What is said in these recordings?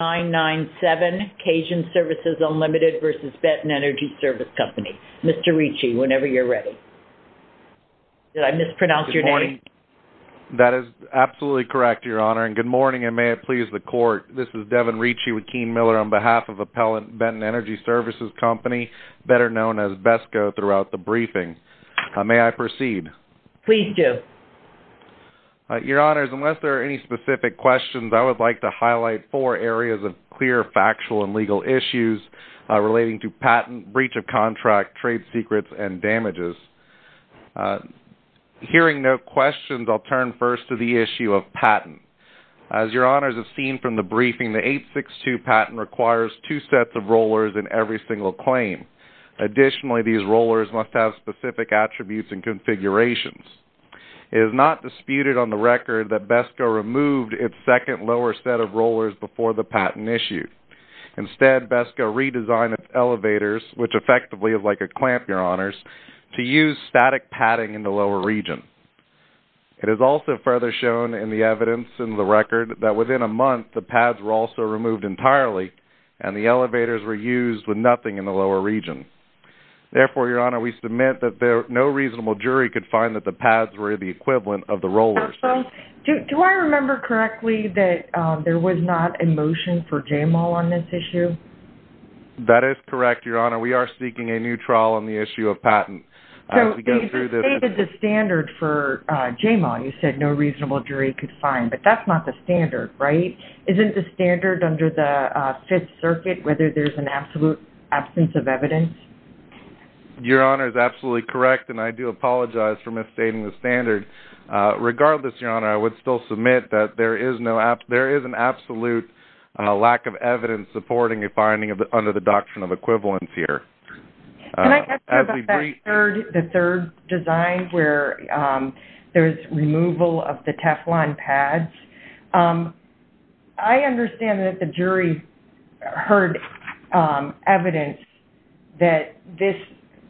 997 Cajun Services Unlimited v. Benton Energy Service Company. Mr. Ricci, whenever you're ready. Did I mispronounce your name? That is absolutely correct, Your Honor, and good morning and may it please the Court. This is Devin Ricci with Keene Miller on behalf of Appellant Benton Energy Services Company, better known as BESCO, throughout the briefing. May I proceed? Please do. Your Honors, unless there are any specific questions, I would like to highlight four areas of clear factual and legal issues relating to patent, breach of contract, trade secrets, and damages. Hearing no questions, I'll turn first to the issue of patent. As Your Honors have seen from the briefing, the 862 patent requires two sets of rollers in every single claim. Additionally, these rollers must have specific attributes and configurations. It is not disputed on the record that BESCO removed its second lower set of rollers before the patent issue. Instead, BESCO redesigned its elevators, which effectively is like a clamp, Your Honors, to use static padding in the lower region. It is also further shown in the evidence in the record that within a month, the pads were also removed entirely and the elevators were used with nothing in the lower region. Therefore, Your Honor, we submit that no reasonable jury could find that the pads were the equivalent of the rollers. Do I remember correctly that there was not a motion for JAMAL on this issue? That is correct, Your Honor. We are seeking a new trial on the issue of patent. So, you stated the standard for JAMAL. You said no reasonable jury could find, but that's not the standard, right? Isn't the standard under the Fifth Circuit whether there's an absolute absence of evidence? Your Honor is absolutely correct, and I do apologize for misstating the standard. Regardless, Your Honor, I would still submit that there is an absolute lack of evidence supporting a finding under the doctrine of equivalence here. Can I ask you about that third design where there's removal of the Teflon pads? I understand that the jury heard evidence that this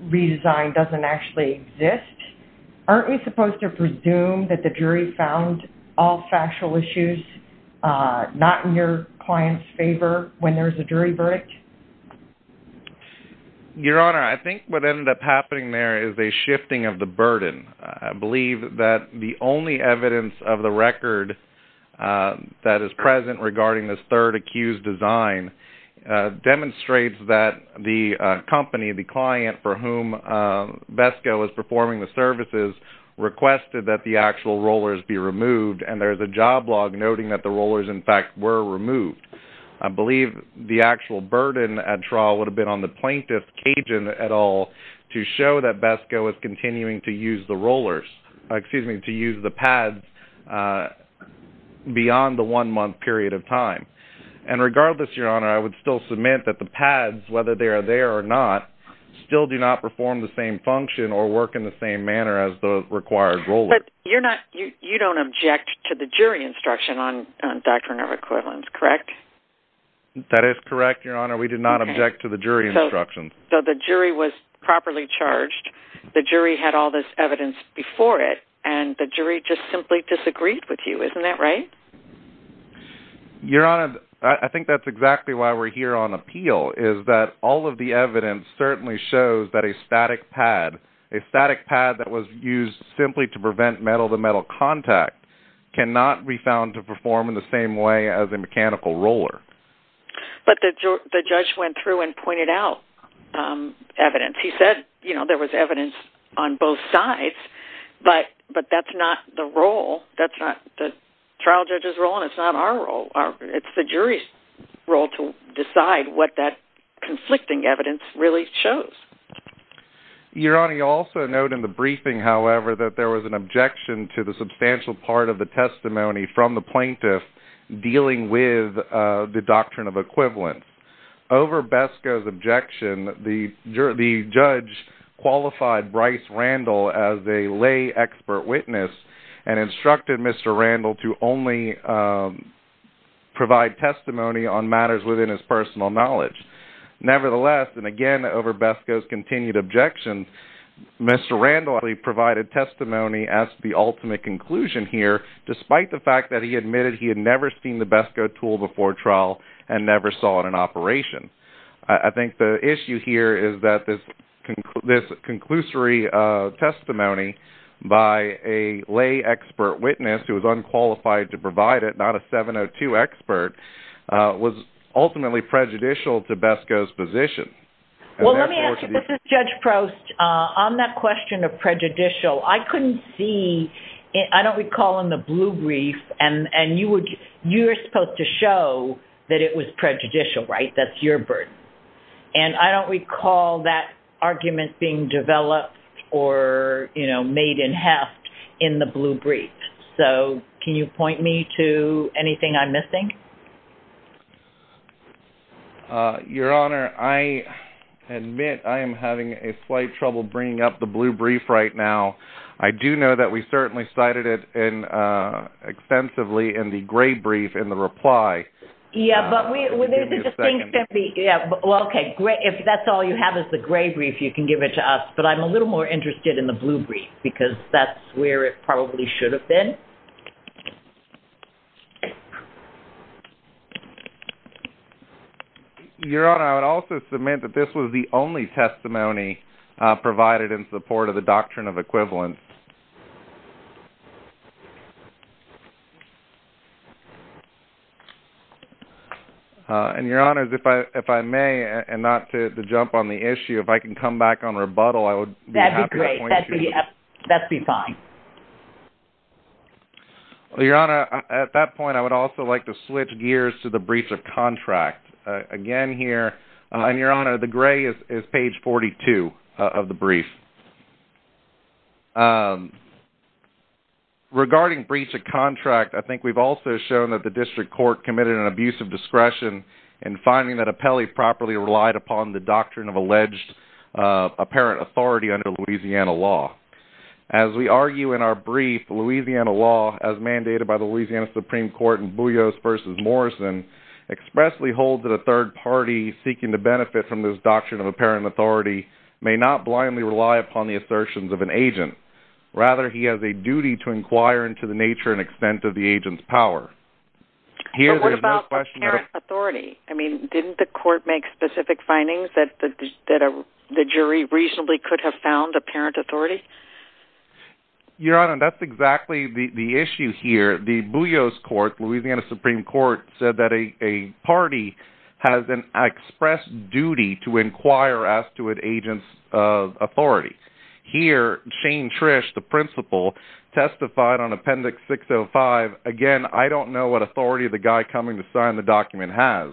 redesign doesn't actually exist. Aren't we supposed to presume that the jury found all factual issues not in your client's favor when there's a jury verdict? Your Honor, I think what ended up happening there is a shifting of the burden. I believe the only evidence of the record that is present regarding this third accused design demonstrates that the company, the client for whom BESCO is performing the services, requested that the actual rollers be removed, and there's a job log noting that the rollers, in fact, were removed. I believe the actual burden at trial would have been on the plaintiff, Kagan, at all to show that BESCO is continuing to use the pads beyond the one-month period of time. Regardless, Your Honor, I would still submit that the pads, whether they are there or not, still do not perform the same function or work in the same manner as the required rollers. You don't object to the jury instruction on doctrine of equivalence, correct? That is correct, Your Honor. We do not object to the jury instruction. So the jury was properly charged. The jury had all this evidence before it, and the jury just simply disagreed with you. Isn't that right? Your Honor, I think that's exactly why we're here on appeal, is that all of the evidence certainly shows that a static pad, a static pad that was used simply to prevent metal-to-metal roller. But the judge went through and pointed out evidence. He said, you know, there was evidence on both sides, but that's not the trial judge's role, and it's not our role. It's the jury's role to decide what that conflicting evidence really shows. Your Honor, you'll also note in the briefing, however, that there was an objection to the doctrine of equivalence. Over Besco's objection, the judge qualified Bryce Randall as a lay expert witness and instructed Mr. Randall to only provide testimony on matters within his personal knowledge. Nevertheless, and again over Besco's continued objection, Mr. Randall actually provided testimony as the ultimate conclusion here, despite the fact that he admitted he had never seen the trial and never saw it in operation. I think the issue here is that this conclusory testimony by a lay expert witness who was unqualified to provide it, not a 702 expert, was ultimately prejudicial to Besco's position. Well, let me ask you, this is Judge Prost. On that question of prejudicial, I couldn't see, I don't recall in the blue brief, and you were supposed to show that it was prejudicial, right? That's your burden. And I don't recall that argument being developed or made in half in the blue brief. So can you point me to anything I'm missing? Your Honor, I admit I am having a slight trouble bringing up the blue brief right now. I do know that we certainly cited it extensively in the gray brief in the reply. Yeah, but we, well, okay, if that's all you have is the gray brief, you can give it to us. But I'm a little more interested in the blue brief because that's where it probably should have been. Your Honor, I would also submit that this was the only testimony provided in support of the Doctrine of Equivalence. And Your Honor, if I may, and not to jump on the issue, if I can come back on rebuttal, I would be happy to point you to it. That would be fine. Your Honor, at that point, I would also like to switch gears to the briefs of contract. Again here, and Your Honor, the gray is page 42 of the brief. Regarding briefs of contract, I think we've also shown that the District Court committed an abuse of discretion in finding that Apelli properly relied upon the Louisiana law. As we argue in our brief, the Louisiana law, as mandated by the Louisiana Supreme Court in Boullios v. Morrison, expressly holds that a third party seeking to benefit from this doctrine of apparent authority may not blindly rely upon the assertions of an agent. Rather, he has a duty to inquire into the nature and extent of the agent's power. Here, there's no question that... But what about apparent authority? I mean, didn't the court make specific findings that the jury reasonably could have found apparent authority? Your Honor, that's exactly the issue here. The Boullios Court, Louisiana Supreme Court, said that a party has an express duty to inquire as to an agent's authority. Here, Shane Trish, the principal, testified on Appendix 605. Again, I don't know what authority the guy coming to sign the document has.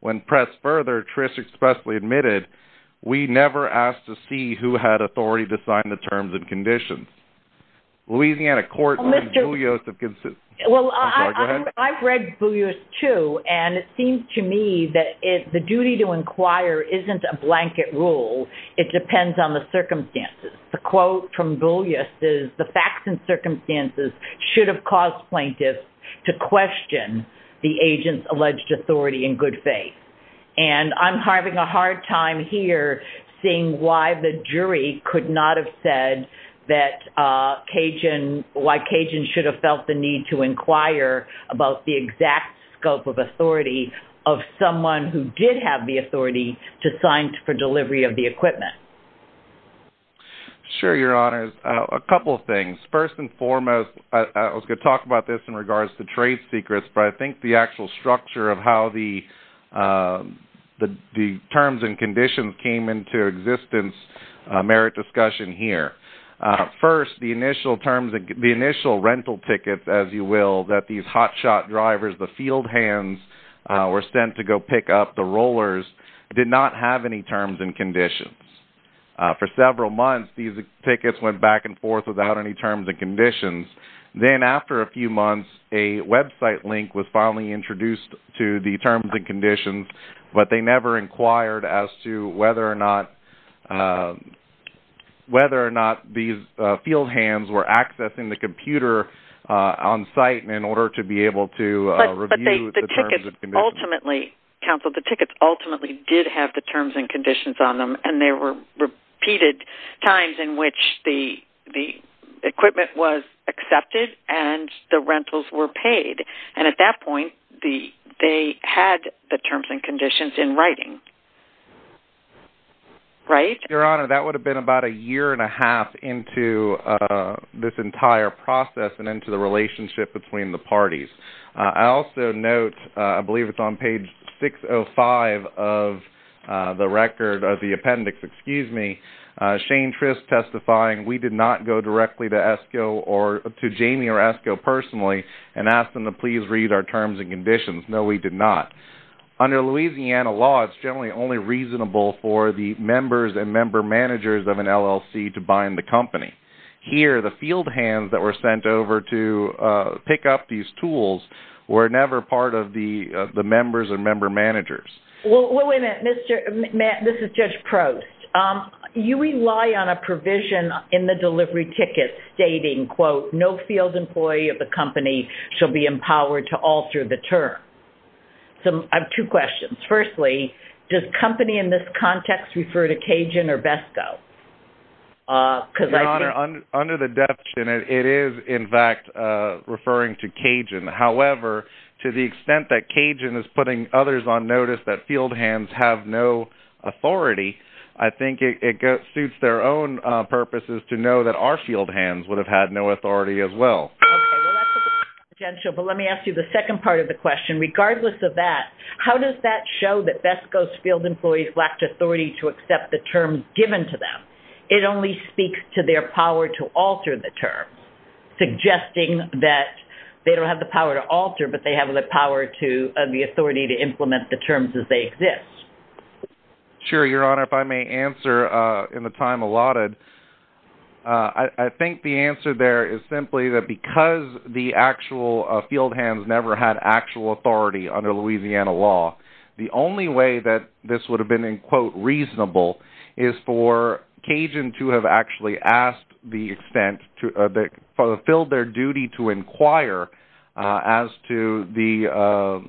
When pressed further, Trish expressly admitted, we never asked to see who had authority to sign the terms and conditions. Louisiana Court in Boullios... Well, I've read Boullios too, and it seems to me that the duty to inquire isn't a blanket rule. It depends on the circumstances. The quote from Boullios is, the facts and circumstances should have caused plaintiffs to question the agent's alleged authority in good faith. And I'm having a hard time here seeing why the jury could not have said that Cajun... Why Cajun should have felt the need to inquire about the exact scope of authority of someone who did have the authority to sign for delivery of the equipment. Sure, Your Honor. A couple of things. First and foremost, I was going to talk about this in regards to trade secrets, but I think the actual structure of how the terms and conditions came into existence, a merit discussion here. First, the initial rental tickets, as you will, that these hotshot drivers, the field hands, were sent to go pick up the rollers, did not have any terms and conditions. For several months, these tickets went back and forth. For several months, a website link was finally introduced to the terms and conditions, but they never inquired as to whether or not these field hands were accessing the computer on site in order to be able to review the terms and conditions. But the tickets ultimately, counsel, the tickets ultimately did have the terms and conditions on them, and there were repeated times in which the equipment was accepted and the rental were paid. And at that point, they had the terms and conditions in writing. Right? Your Honor, that would have been about a year and a half into this entire process and into the relationship between the parties. I also note, I believe it's on page 605 of the appendix, excuse me, Shane Trist testifying, we did not go directly to Esco or to Jamie or Esco personally and ask them to please read our terms and conditions. No, we did not. Under Louisiana law, it's generally only reasonable for the members and member managers of an LLC to bind the company. Here, the field hands that were sent over to pick up these tools were never part of the members or member managers. Well, wait a minute, Mr. Matt, this is Judge Prost. You rely on a provision in the delivery ticket stating, quote, no field employee of the company shall be empowered to alter the term. So I have two questions. Firstly, does company in this context refer to Cajun or Besco? Your Honor, under the definition, it is in fact referring to Cajun. However, to the extent that Cajun is putting others on notice that field hands have no authority, I think it suits their own purposes to know that our field hands would have had no authority as well. Okay, well that's a potential, but let me ask you the second part of the question. Regardless of that, how does that show that Besco's field employees lacked authority to accept the term given to them? It only speaks to their power to alter the term, suggesting that they don't have the power to alter, but they have the power to, the authority to implement the terms as they exist. Sure, Your Honor. If I may answer in the time allotted, I think the answer there is simply that because the actual field hands never had actual authority under Louisiana law, the only way that this would have been in quote reasonable is for Cajun to have actually asked the extent to, fulfilled their duty to inquire as to the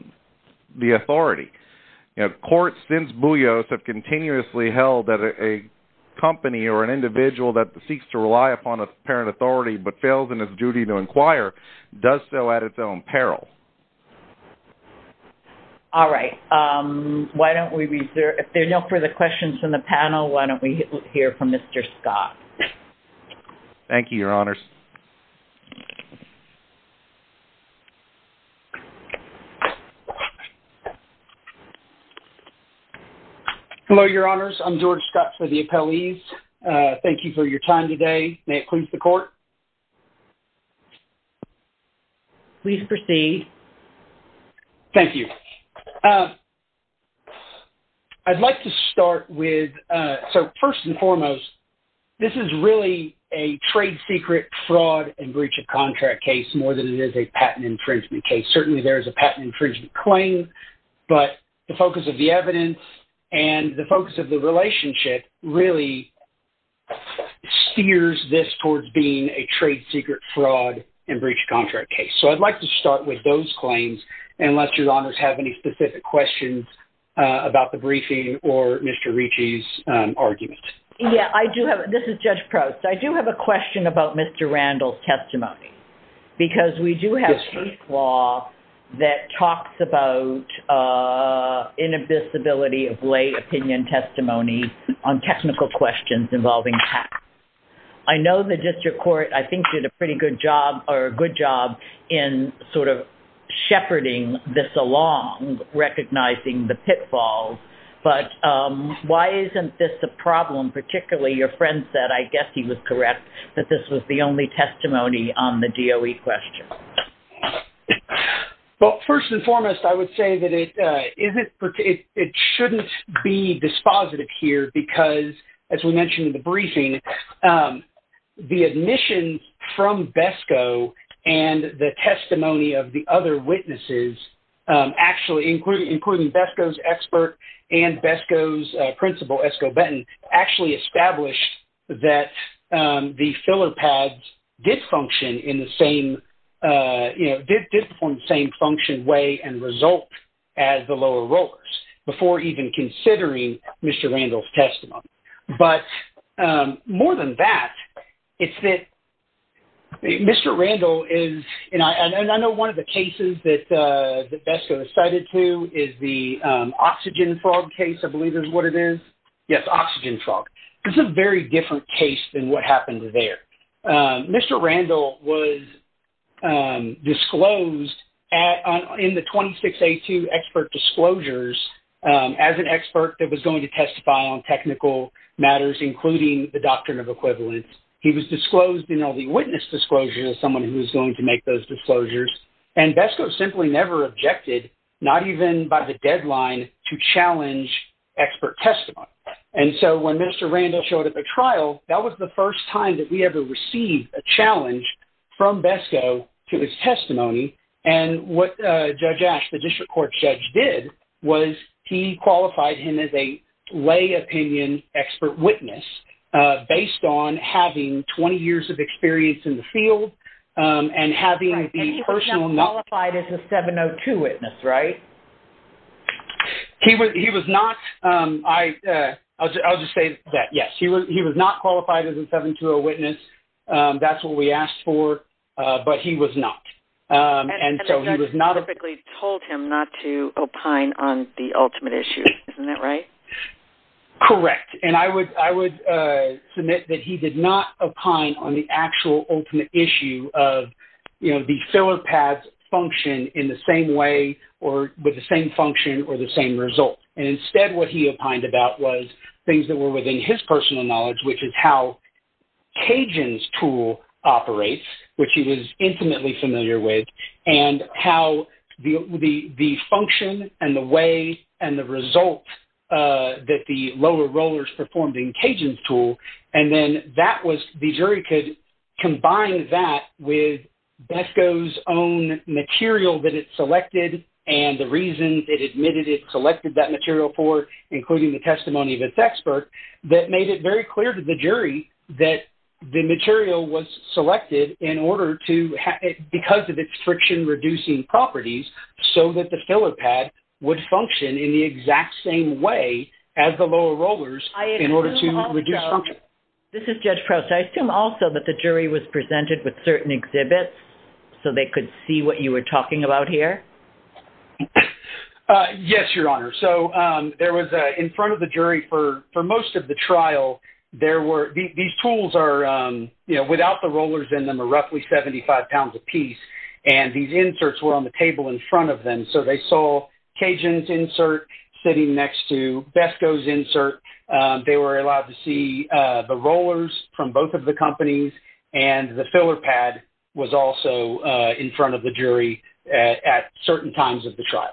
authority. Courts, since Bullios have continuously held that a company or an individual that seeks to rely upon a parent authority, but fails in its duty to inquire, does so at its own peril. All right, why don't we, if there are no further questions from the panel, why don't we hear from Mr. Scott? Thank you, Your Honors. Hello, Your Honors. I'm George Scott for the appellees. Thank you for your time today. May it please the court. Please proceed. Thank you. I'd like to start with, so first and foremost, this is really a trade secret fraud and breach of contract case more than it is a patent infringement case. Certainly there is a patent infringement claim, but the focus of the evidence and the focus of the relationship really steers this towards being a trade secret fraud and breach of contract case. So I'd like to start with those claims, unless Your Honors have any specific questions about the briefing or Mr. Ricci's argument. Yeah, I do have, this is Judge Prost. I do have a question about Mr. Randall's testimony, because we do have a case law that talks about inadmissibility of lay opinion testimony on technical questions involving patents. I know the district court I think did a pretty good job or a good job in sort of shepherding this along, recognizing the pitfalls. But why isn't this a problem, particularly your friend said, I guess he was correct, that this was the only testimony on the DOE question? Well, first and foremost, I would say that it shouldn't be dispositive here, because as we mentioned in the briefing, the admissions from BESCO and the testimony of the other witnesses actually, including BESCO's expert and BESCO's principal, Esko Benton, actually established that the filler pads did function in the same, you know, did perform the same function way and result as the lower rollers, before even considering Mr. Randall's testimony. But more than that, it's that Mr. Randall is, and I know one of the cases that BESCO is cited to is the oxygen frog case, I believe is what it is. Yes, oxygen frog. It's a very different case than what happened there. Mr. Randall was disclosed at the time that BESCO in the 26A2 expert disclosures, as an expert that was going to testify on technical matters, including the doctrine of equivalence, he was disclosed in all the witness disclosures as someone who's going to make those disclosures. And BESCO simply never objected, not even by the deadline to challenge expert testimony. And so when Mr. Randall showed up at the trial, that was the first time that we ever received a challenge from BESCO to his testimony. And what Judge Ash, the district court judge did, was he qualified him as a lay opinion expert witness, based on having 20 years of experience in the field, and having the personal knowledge. And he was not qualified as a 702 witness, right? He was not. I'll just say that, yes. He was not qualified as a 702 witness. That's what we asked for, but he was not. And so he was not- And the judge typically told him not to opine on the ultimate issue. Isn't that right? Correct. And I would submit that he did not opine on the actual ultimate issue of the filler path function in the same way, or with the same function, or the same result. And instead, what he opined about was things that were within his personal knowledge, which is how Cajun's tool operates, which he was intimately familiar with, and how the function and the way and the result that the lower rollers performed in Cajun's tool. And then the jury could combine that with BESCO's own material that it selected, and the reasons it admitted it selected that material for, including the testimony of its expert, that made it very clear to the jury that the material was selected in order to, because of its friction-reducing properties, so that the filler pad would function in the exact same way as the lower rollers in order to reduce function. This is Judge Prowse. I assume also that the jury was presented with certain exhibits so they could see what you were talking about here? Yes, Your Honor. So, there was, in front of the jury for most of the trial, there were, these tools are, you know, without the rollers in them are roughly 75 pounds apiece, and these inserts were on the table in front of them. So, they saw Cajun's insert sitting next to BESCO's insert. They were allowed to see the rollers from both of the companies, and the filler pad was also in front of the jury at certain times of the trial.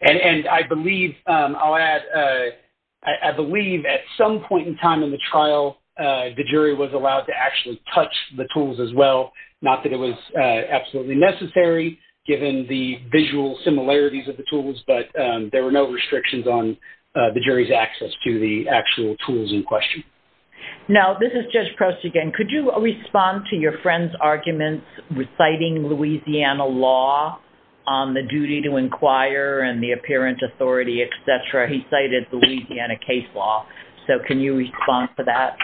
And I believe, I'll add, I believe at some point in time in the trial, the jury was allowed to actually touch the tools as well. Not that it was absolutely necessary, given the visual similarities of the tools, but there were no restrictions on the jury's access to the Now, this is Judge Prowse again. Could you respond to your friend's arguments reciting Louisiana law on the duty to inquire and the apparent authority, et cetera? He cited Louisiana case law. So, can you respond to that?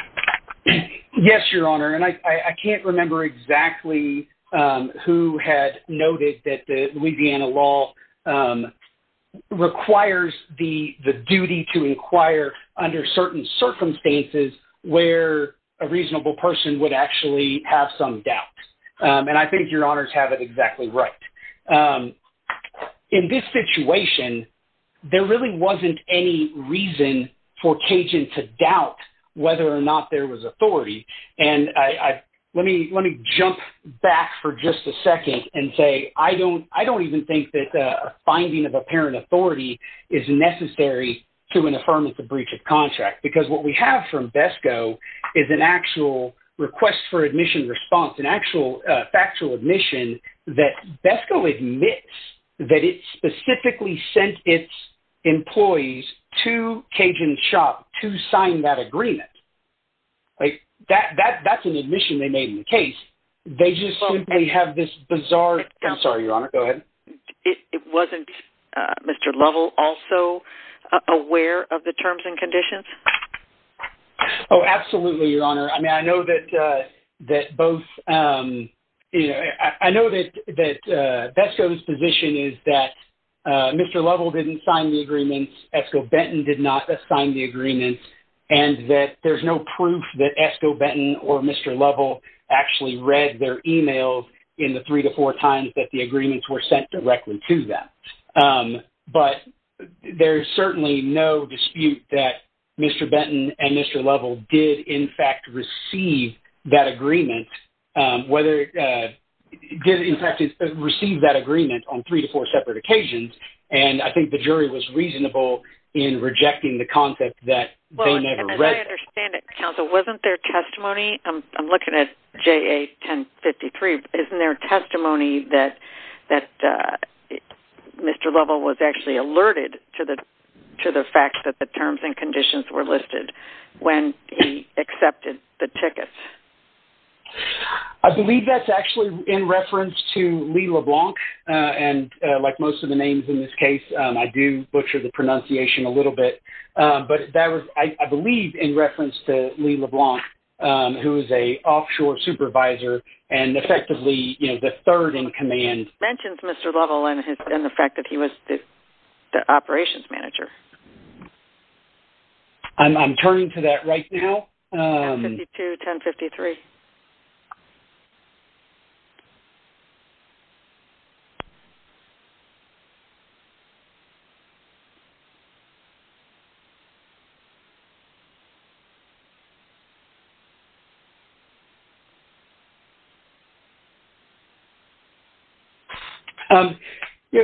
Yes, Your Honor. And I can't remember exactly who had noted that the Louisiana law requires the duty to inquire under certain circumstances where a reasonable person would actually have some doubt. And I think Your Honors have it exactly right. In this situation, there really wasn't any reason for Cajun to doubt whether or not there was authority. And let me jump back for just a second and say, I don't even think that a finding of apparent authority is necessary to an affirmative breach of contract. Because what we have from BESCO is an actual request for admission response, an actual factual admission that BESCO admits that it specifically sent its employees to Cajun's shop to sign that agreement. That's an admission they made in the case. They just simply have this bizarre... I'm sorry, Your Honor. Go ahead. It wasn't Mr. Lovell also aware of the terms and conditions? Oh, absolutely, Your Honor. I mean, I know that BESCO's position is that Mr. Lovell didn't sign the agreement, Esco Benton did not assign the agreement, and that there's no proof that Mr. Lovell actually read their emails in the three to four times that the agreements were sent directly to them. But there's certainly no dispute that Mr. Benton and Mr. Lovell did in fact receive that agreement on three to four separate occasions. And I think the jury was reasonable in rejecting the concept that they never read it. I understand it, counsel. Wasn't there testimony? I'm looking at JA 1053. Isn't there testimony that Mr. Lovell was actually alerted to the fact that the terms and conditions were listed when he accepted the tickets? I believe that's actually in reference to Lee LeBlanc. And like most of the names in this case, I do butcher the pronunciation a little bit. But that was, I believe, in reference to Lee LeBlanc, who is an offshore supervisor and effectively, you know, the third in command. It mentions Mr. Lovell and the fact that he was the operations manager. I'm turning to that right now.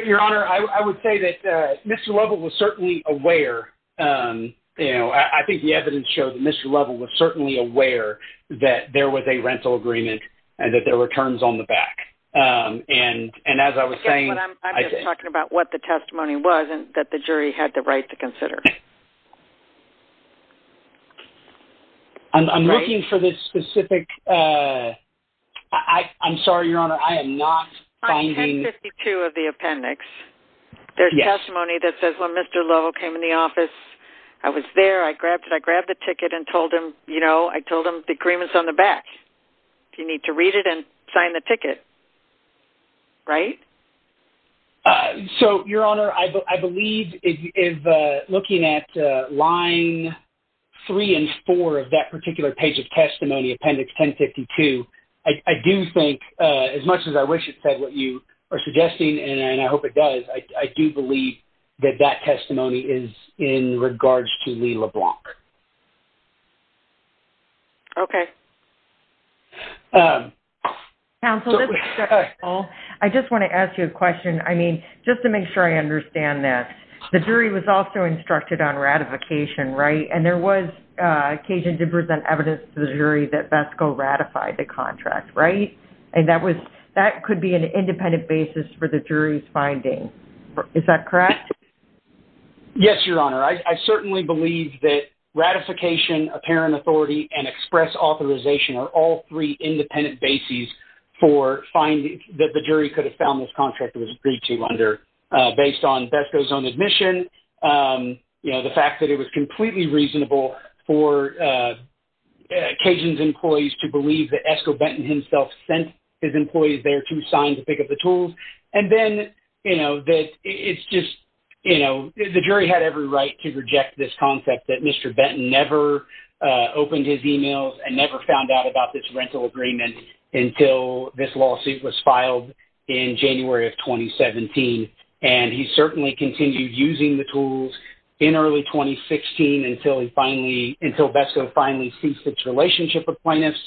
Your Honor, I would say that Mr. Lovell was certainly aware. You know, I think the evidence showed that Mr. Lovell was certainly aware that there was a rental agreement and that there were terms on the back. And as I was saying... I'm just talking about what the testimony was and that the jury had the right to consider. I'm looking for the specific... I'm sorry, Your Honor, I am not finding... On 1052 of the appendix, there's testimony that says when Mr. Lovell came in the office, I was there, I grabbed it, I grabbed the ticket and told him, you know, I told him the agreement's on the back. You need to read it and sign the ticket. Right? So, Your Honor, I believe, looking at line three and four of that particular page of testimony, appendix 1052, I do think, as much as I wish it said what you are suggesting, and I hope it does, I do believe that that testimony is in regards to Lee LeBlanc. Okay. Counsel, I just want to ask you a question. I mean, just to make sure I understand this, the jury was also instructed on ratification, right? And there was occasion to present evidence to the jury that BESCO ratified the contract, right? And that could be an independent basis for the jury's finding. Is that correct? Yes, Your Honor. I certainly believe that ratification, apparent authority, and express authorization are all three independent bases for finding that the jury could have found this contract was agreed to under, based on BESCO's own admission, you know, the fact that it was completely reasonable for Cajun's employees to believe that Esco Benton himself sent his employees there to sign to pick up the tools. And then, you know, that it's just, you know, the jury had every right to reject this concept that Mr. Benton never opened his emails and never found out about this rental agreement until this lawsuit was filed in January of 2017. And he certainly continued using the tools in early 2016 until BESCO finally ceased its relationship with plaintiffs.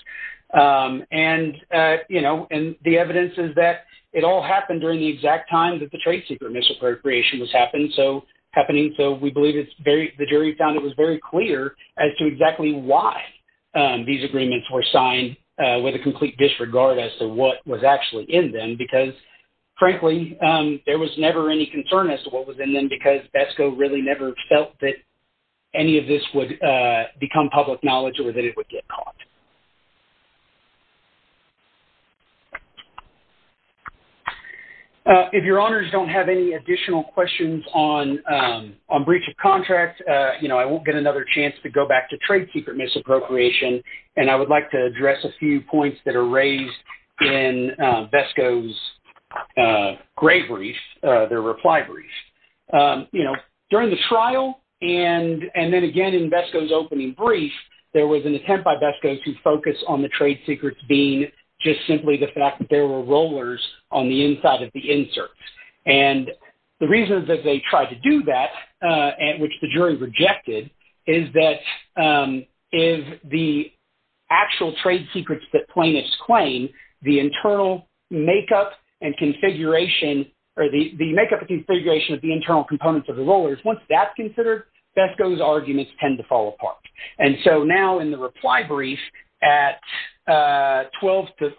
And, you know, and the evidence is that it all happened during the exact time that the trade secret misappropriation was happening. So we believe the jury found it was very clear as to exactly why these agreements were signed with a complete disregard as to what was actually in them. Because frankly, there was never any concern as to what was in them because BESCO really never felt that any of this would become public knowledge or that it would get caught. If your honors don't have any additional questions on breach of contract, you know, I won't get another chance to go back to trade secret misappropriation. And I would like to address a few points that are raised in BESCO's gray brief, their reply brief. During the trial and then again in BESCO's opening brief, there was an attempt by BESCO to focus on the trade secrets being just simply the fact that there were rollers on the inside of the inserts. And the reasons that they tried to do that and which the jury rejected is that if the actual trade secrets that plaintiffs claim, the internal makeup and configuration of the internal components of the rollers, once that's considered, BESCO's arguments tend to fall apart. And so now in the reply brief at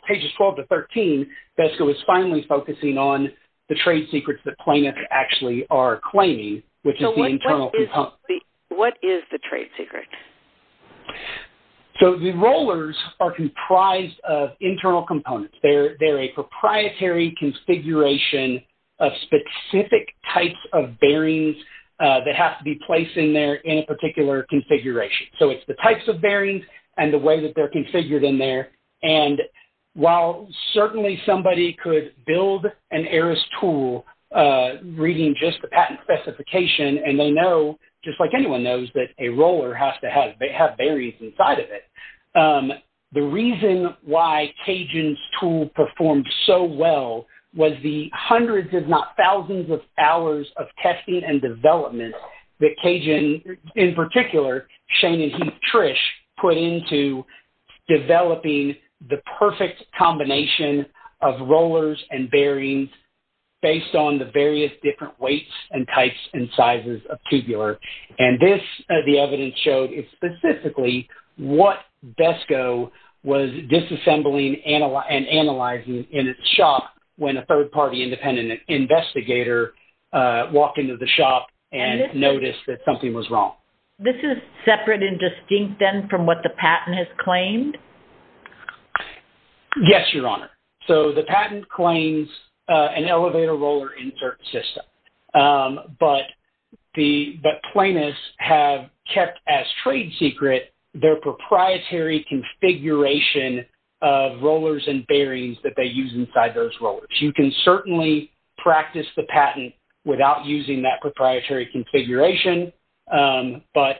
pages 12 to 13, BESCO is finally focusing on the trade secrets that plaintiffs actually are claiming, which is the internal components. What is the trade secret? So, the rollers are comprised of internal components. They're a proprietary configuration of specific types of bearings that have to be placed in there in a particular configuration. So, it's the types of bearings and the way that they're configured in there. And while certainly somebody could build an heiress tool reading just the patent specification and they know, just like anyone knows, that a roller has to have bearings inside of it. The reason why Cajun's tool performed so well was the hundreds if not thousands of hours of testing and development that Cajun, in particular, Shane and Heath Trish, put into developing the perfect combination of rollers and bearings based on the various different weights and types and sizes of tubular. And this, the evidence showed, is specifically what BESCO was disassembling and analyzing in its shop when a third-party independent investigator walked into the shop and noticed that something was wrong. This is separate and distinct then from what the patent has claimed? Yes, Your Honor. So, the patent claims an elevator roller insert system. But the plaintiffs have kept as trade secret their proprietary configuration of rollers and bearings that they use inside those rollers. You can certainly practice the patent without using that proprietary configuration. But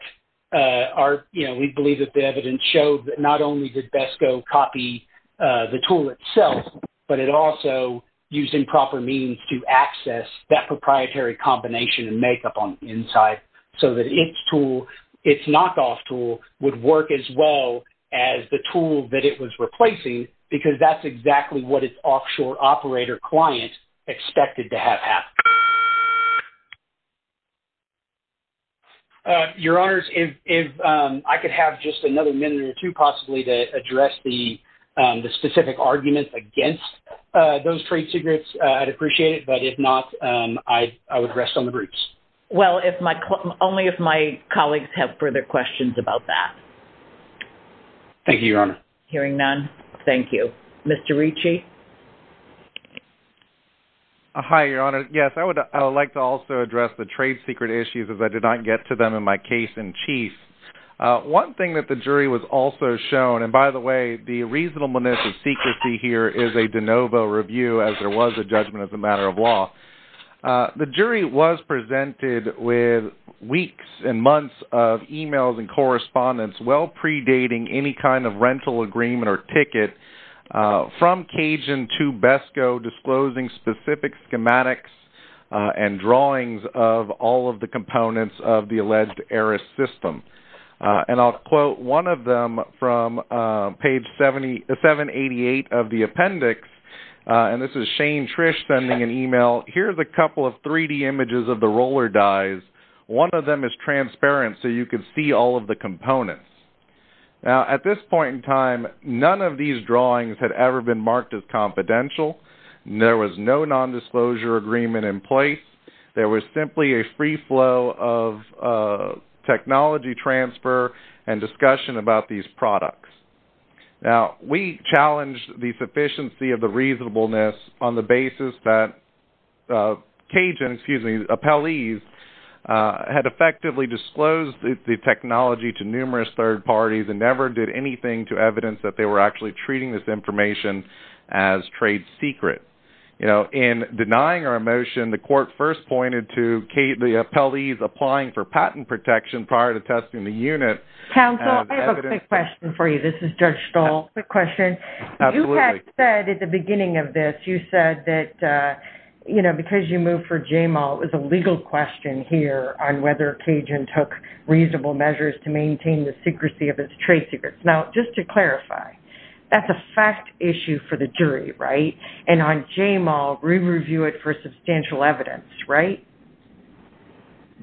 we believe that the evidence showed that not only did BESCO copy the tool itself, but it also used improper means to access that proprietary combination and make up on the inside so that its tool, its knockoff tool, would work as well as the tool that it was replacing because that's exactly what its offshore operator client expected to have Your Honors, if I could have just another minute or two possibly to address the specific arguments against those trade secrets, I'd appreciate it. But if not, I would rest on the groups. Well, only if my colleagues have further questions about that. Thank you, Your Honor. Hearing none, thank you. Mr. Ricci? Hi, Your Honor. Yes, I would like to also address the trade secret issues as I did not get to them in my case in Chief. One thing that the jury was also shown, and by the way, the reasonableness of secrecy here is a de novo review as there was a judgment as a matter of law. The jury was presented with weeks and months of emails and correspondence well predating any kind of rental agreement or ticket from Cajun to BESCO disclosing specific schematics and drawings of all of the components of the alleged heiress system. And I'll quote one of them from page 788 of the appendix, and this is Shane Trish sending an email. Here's a couple of 3D images of the roller dyes. One of them is transparent so you can see all of the components. Now, at this point in time, none of these drawings had ever been marked as confidential. There was no nondisclosure agreement in place. There was simply a free flow of technology transfer and discussion about these products. Now, we challenged the sufficiency of the reasonableness on the basis that Cajun, excuse me, had given technology to numerous third parties and never did anything to evidence that they were actually treating this information as trade secret. In denying our motion, the court first pointed to the appellees applying for patent protection prior to testing the unit. Counsel, I have a quick question for you. This is Judge Stahl. Quick question. Absolutely. You had said at the beginning of this, you said that because you moved for JML, it was a legal question here on whether Cajun took reasonable measures to maintain the secrecy of its trade secrets. Now, just to clarify, that's a fact issue for the jury, right? And on JML, we review it for substantial evidence, right?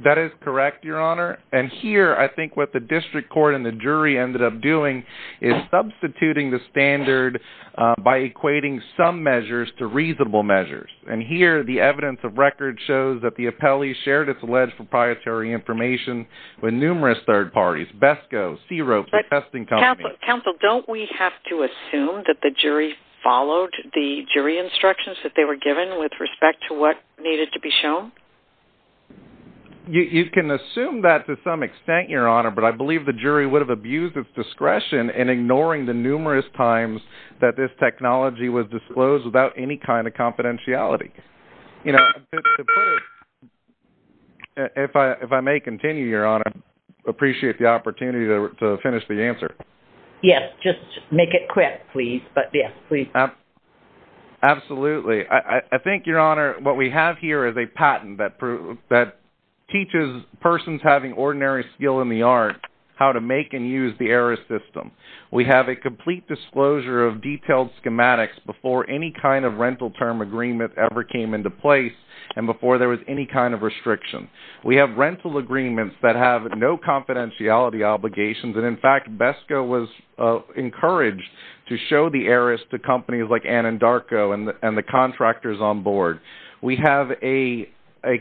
That is correct, Your Honor. And here, I think what the district court and the jury ended up doing is substituting the standard by equating some measures to reasonable measures. And here, the evidence of the appellee shared its alleged proprietary information with numerous third parties, BESCO, CRO, the testing company. Counsel, don't we have to assume that the jury followed the jury instructions that they were given with respect to what needed to be shown? You can assume that to some extent, Your Honor, but I believe the jury would have abused its discretion in ignoring the numerous times that this technology was disclosed without any kind of confidentiality. If I may continue, Your Honor, I appreciate the opportunity to finish the answer. Yes, just make it quick, please. Absolutely. I think, Your Honor, what we have here is a patent that teaches persons having ordinary skill in the art how to make and use the error system. We have a complete disclosure of detailed and before there was any kind of restriction. We have rental agreements that have no confidentiality obligations, and in fact, BESCO was encouraged to show the errors to companies like Anandarco and the contractors on board. We have a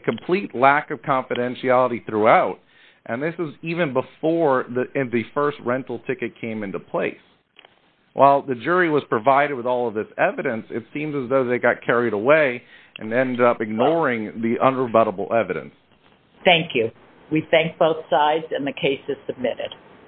complete lack of confidentiality throughout, and this was even before the first rental ticket came into place. While the jury was provided with all of this evidence, it seems as though they got carried away and ended up ignoring the unrebuttable evidence. Thank you. We thank both sides, and the case is submitted.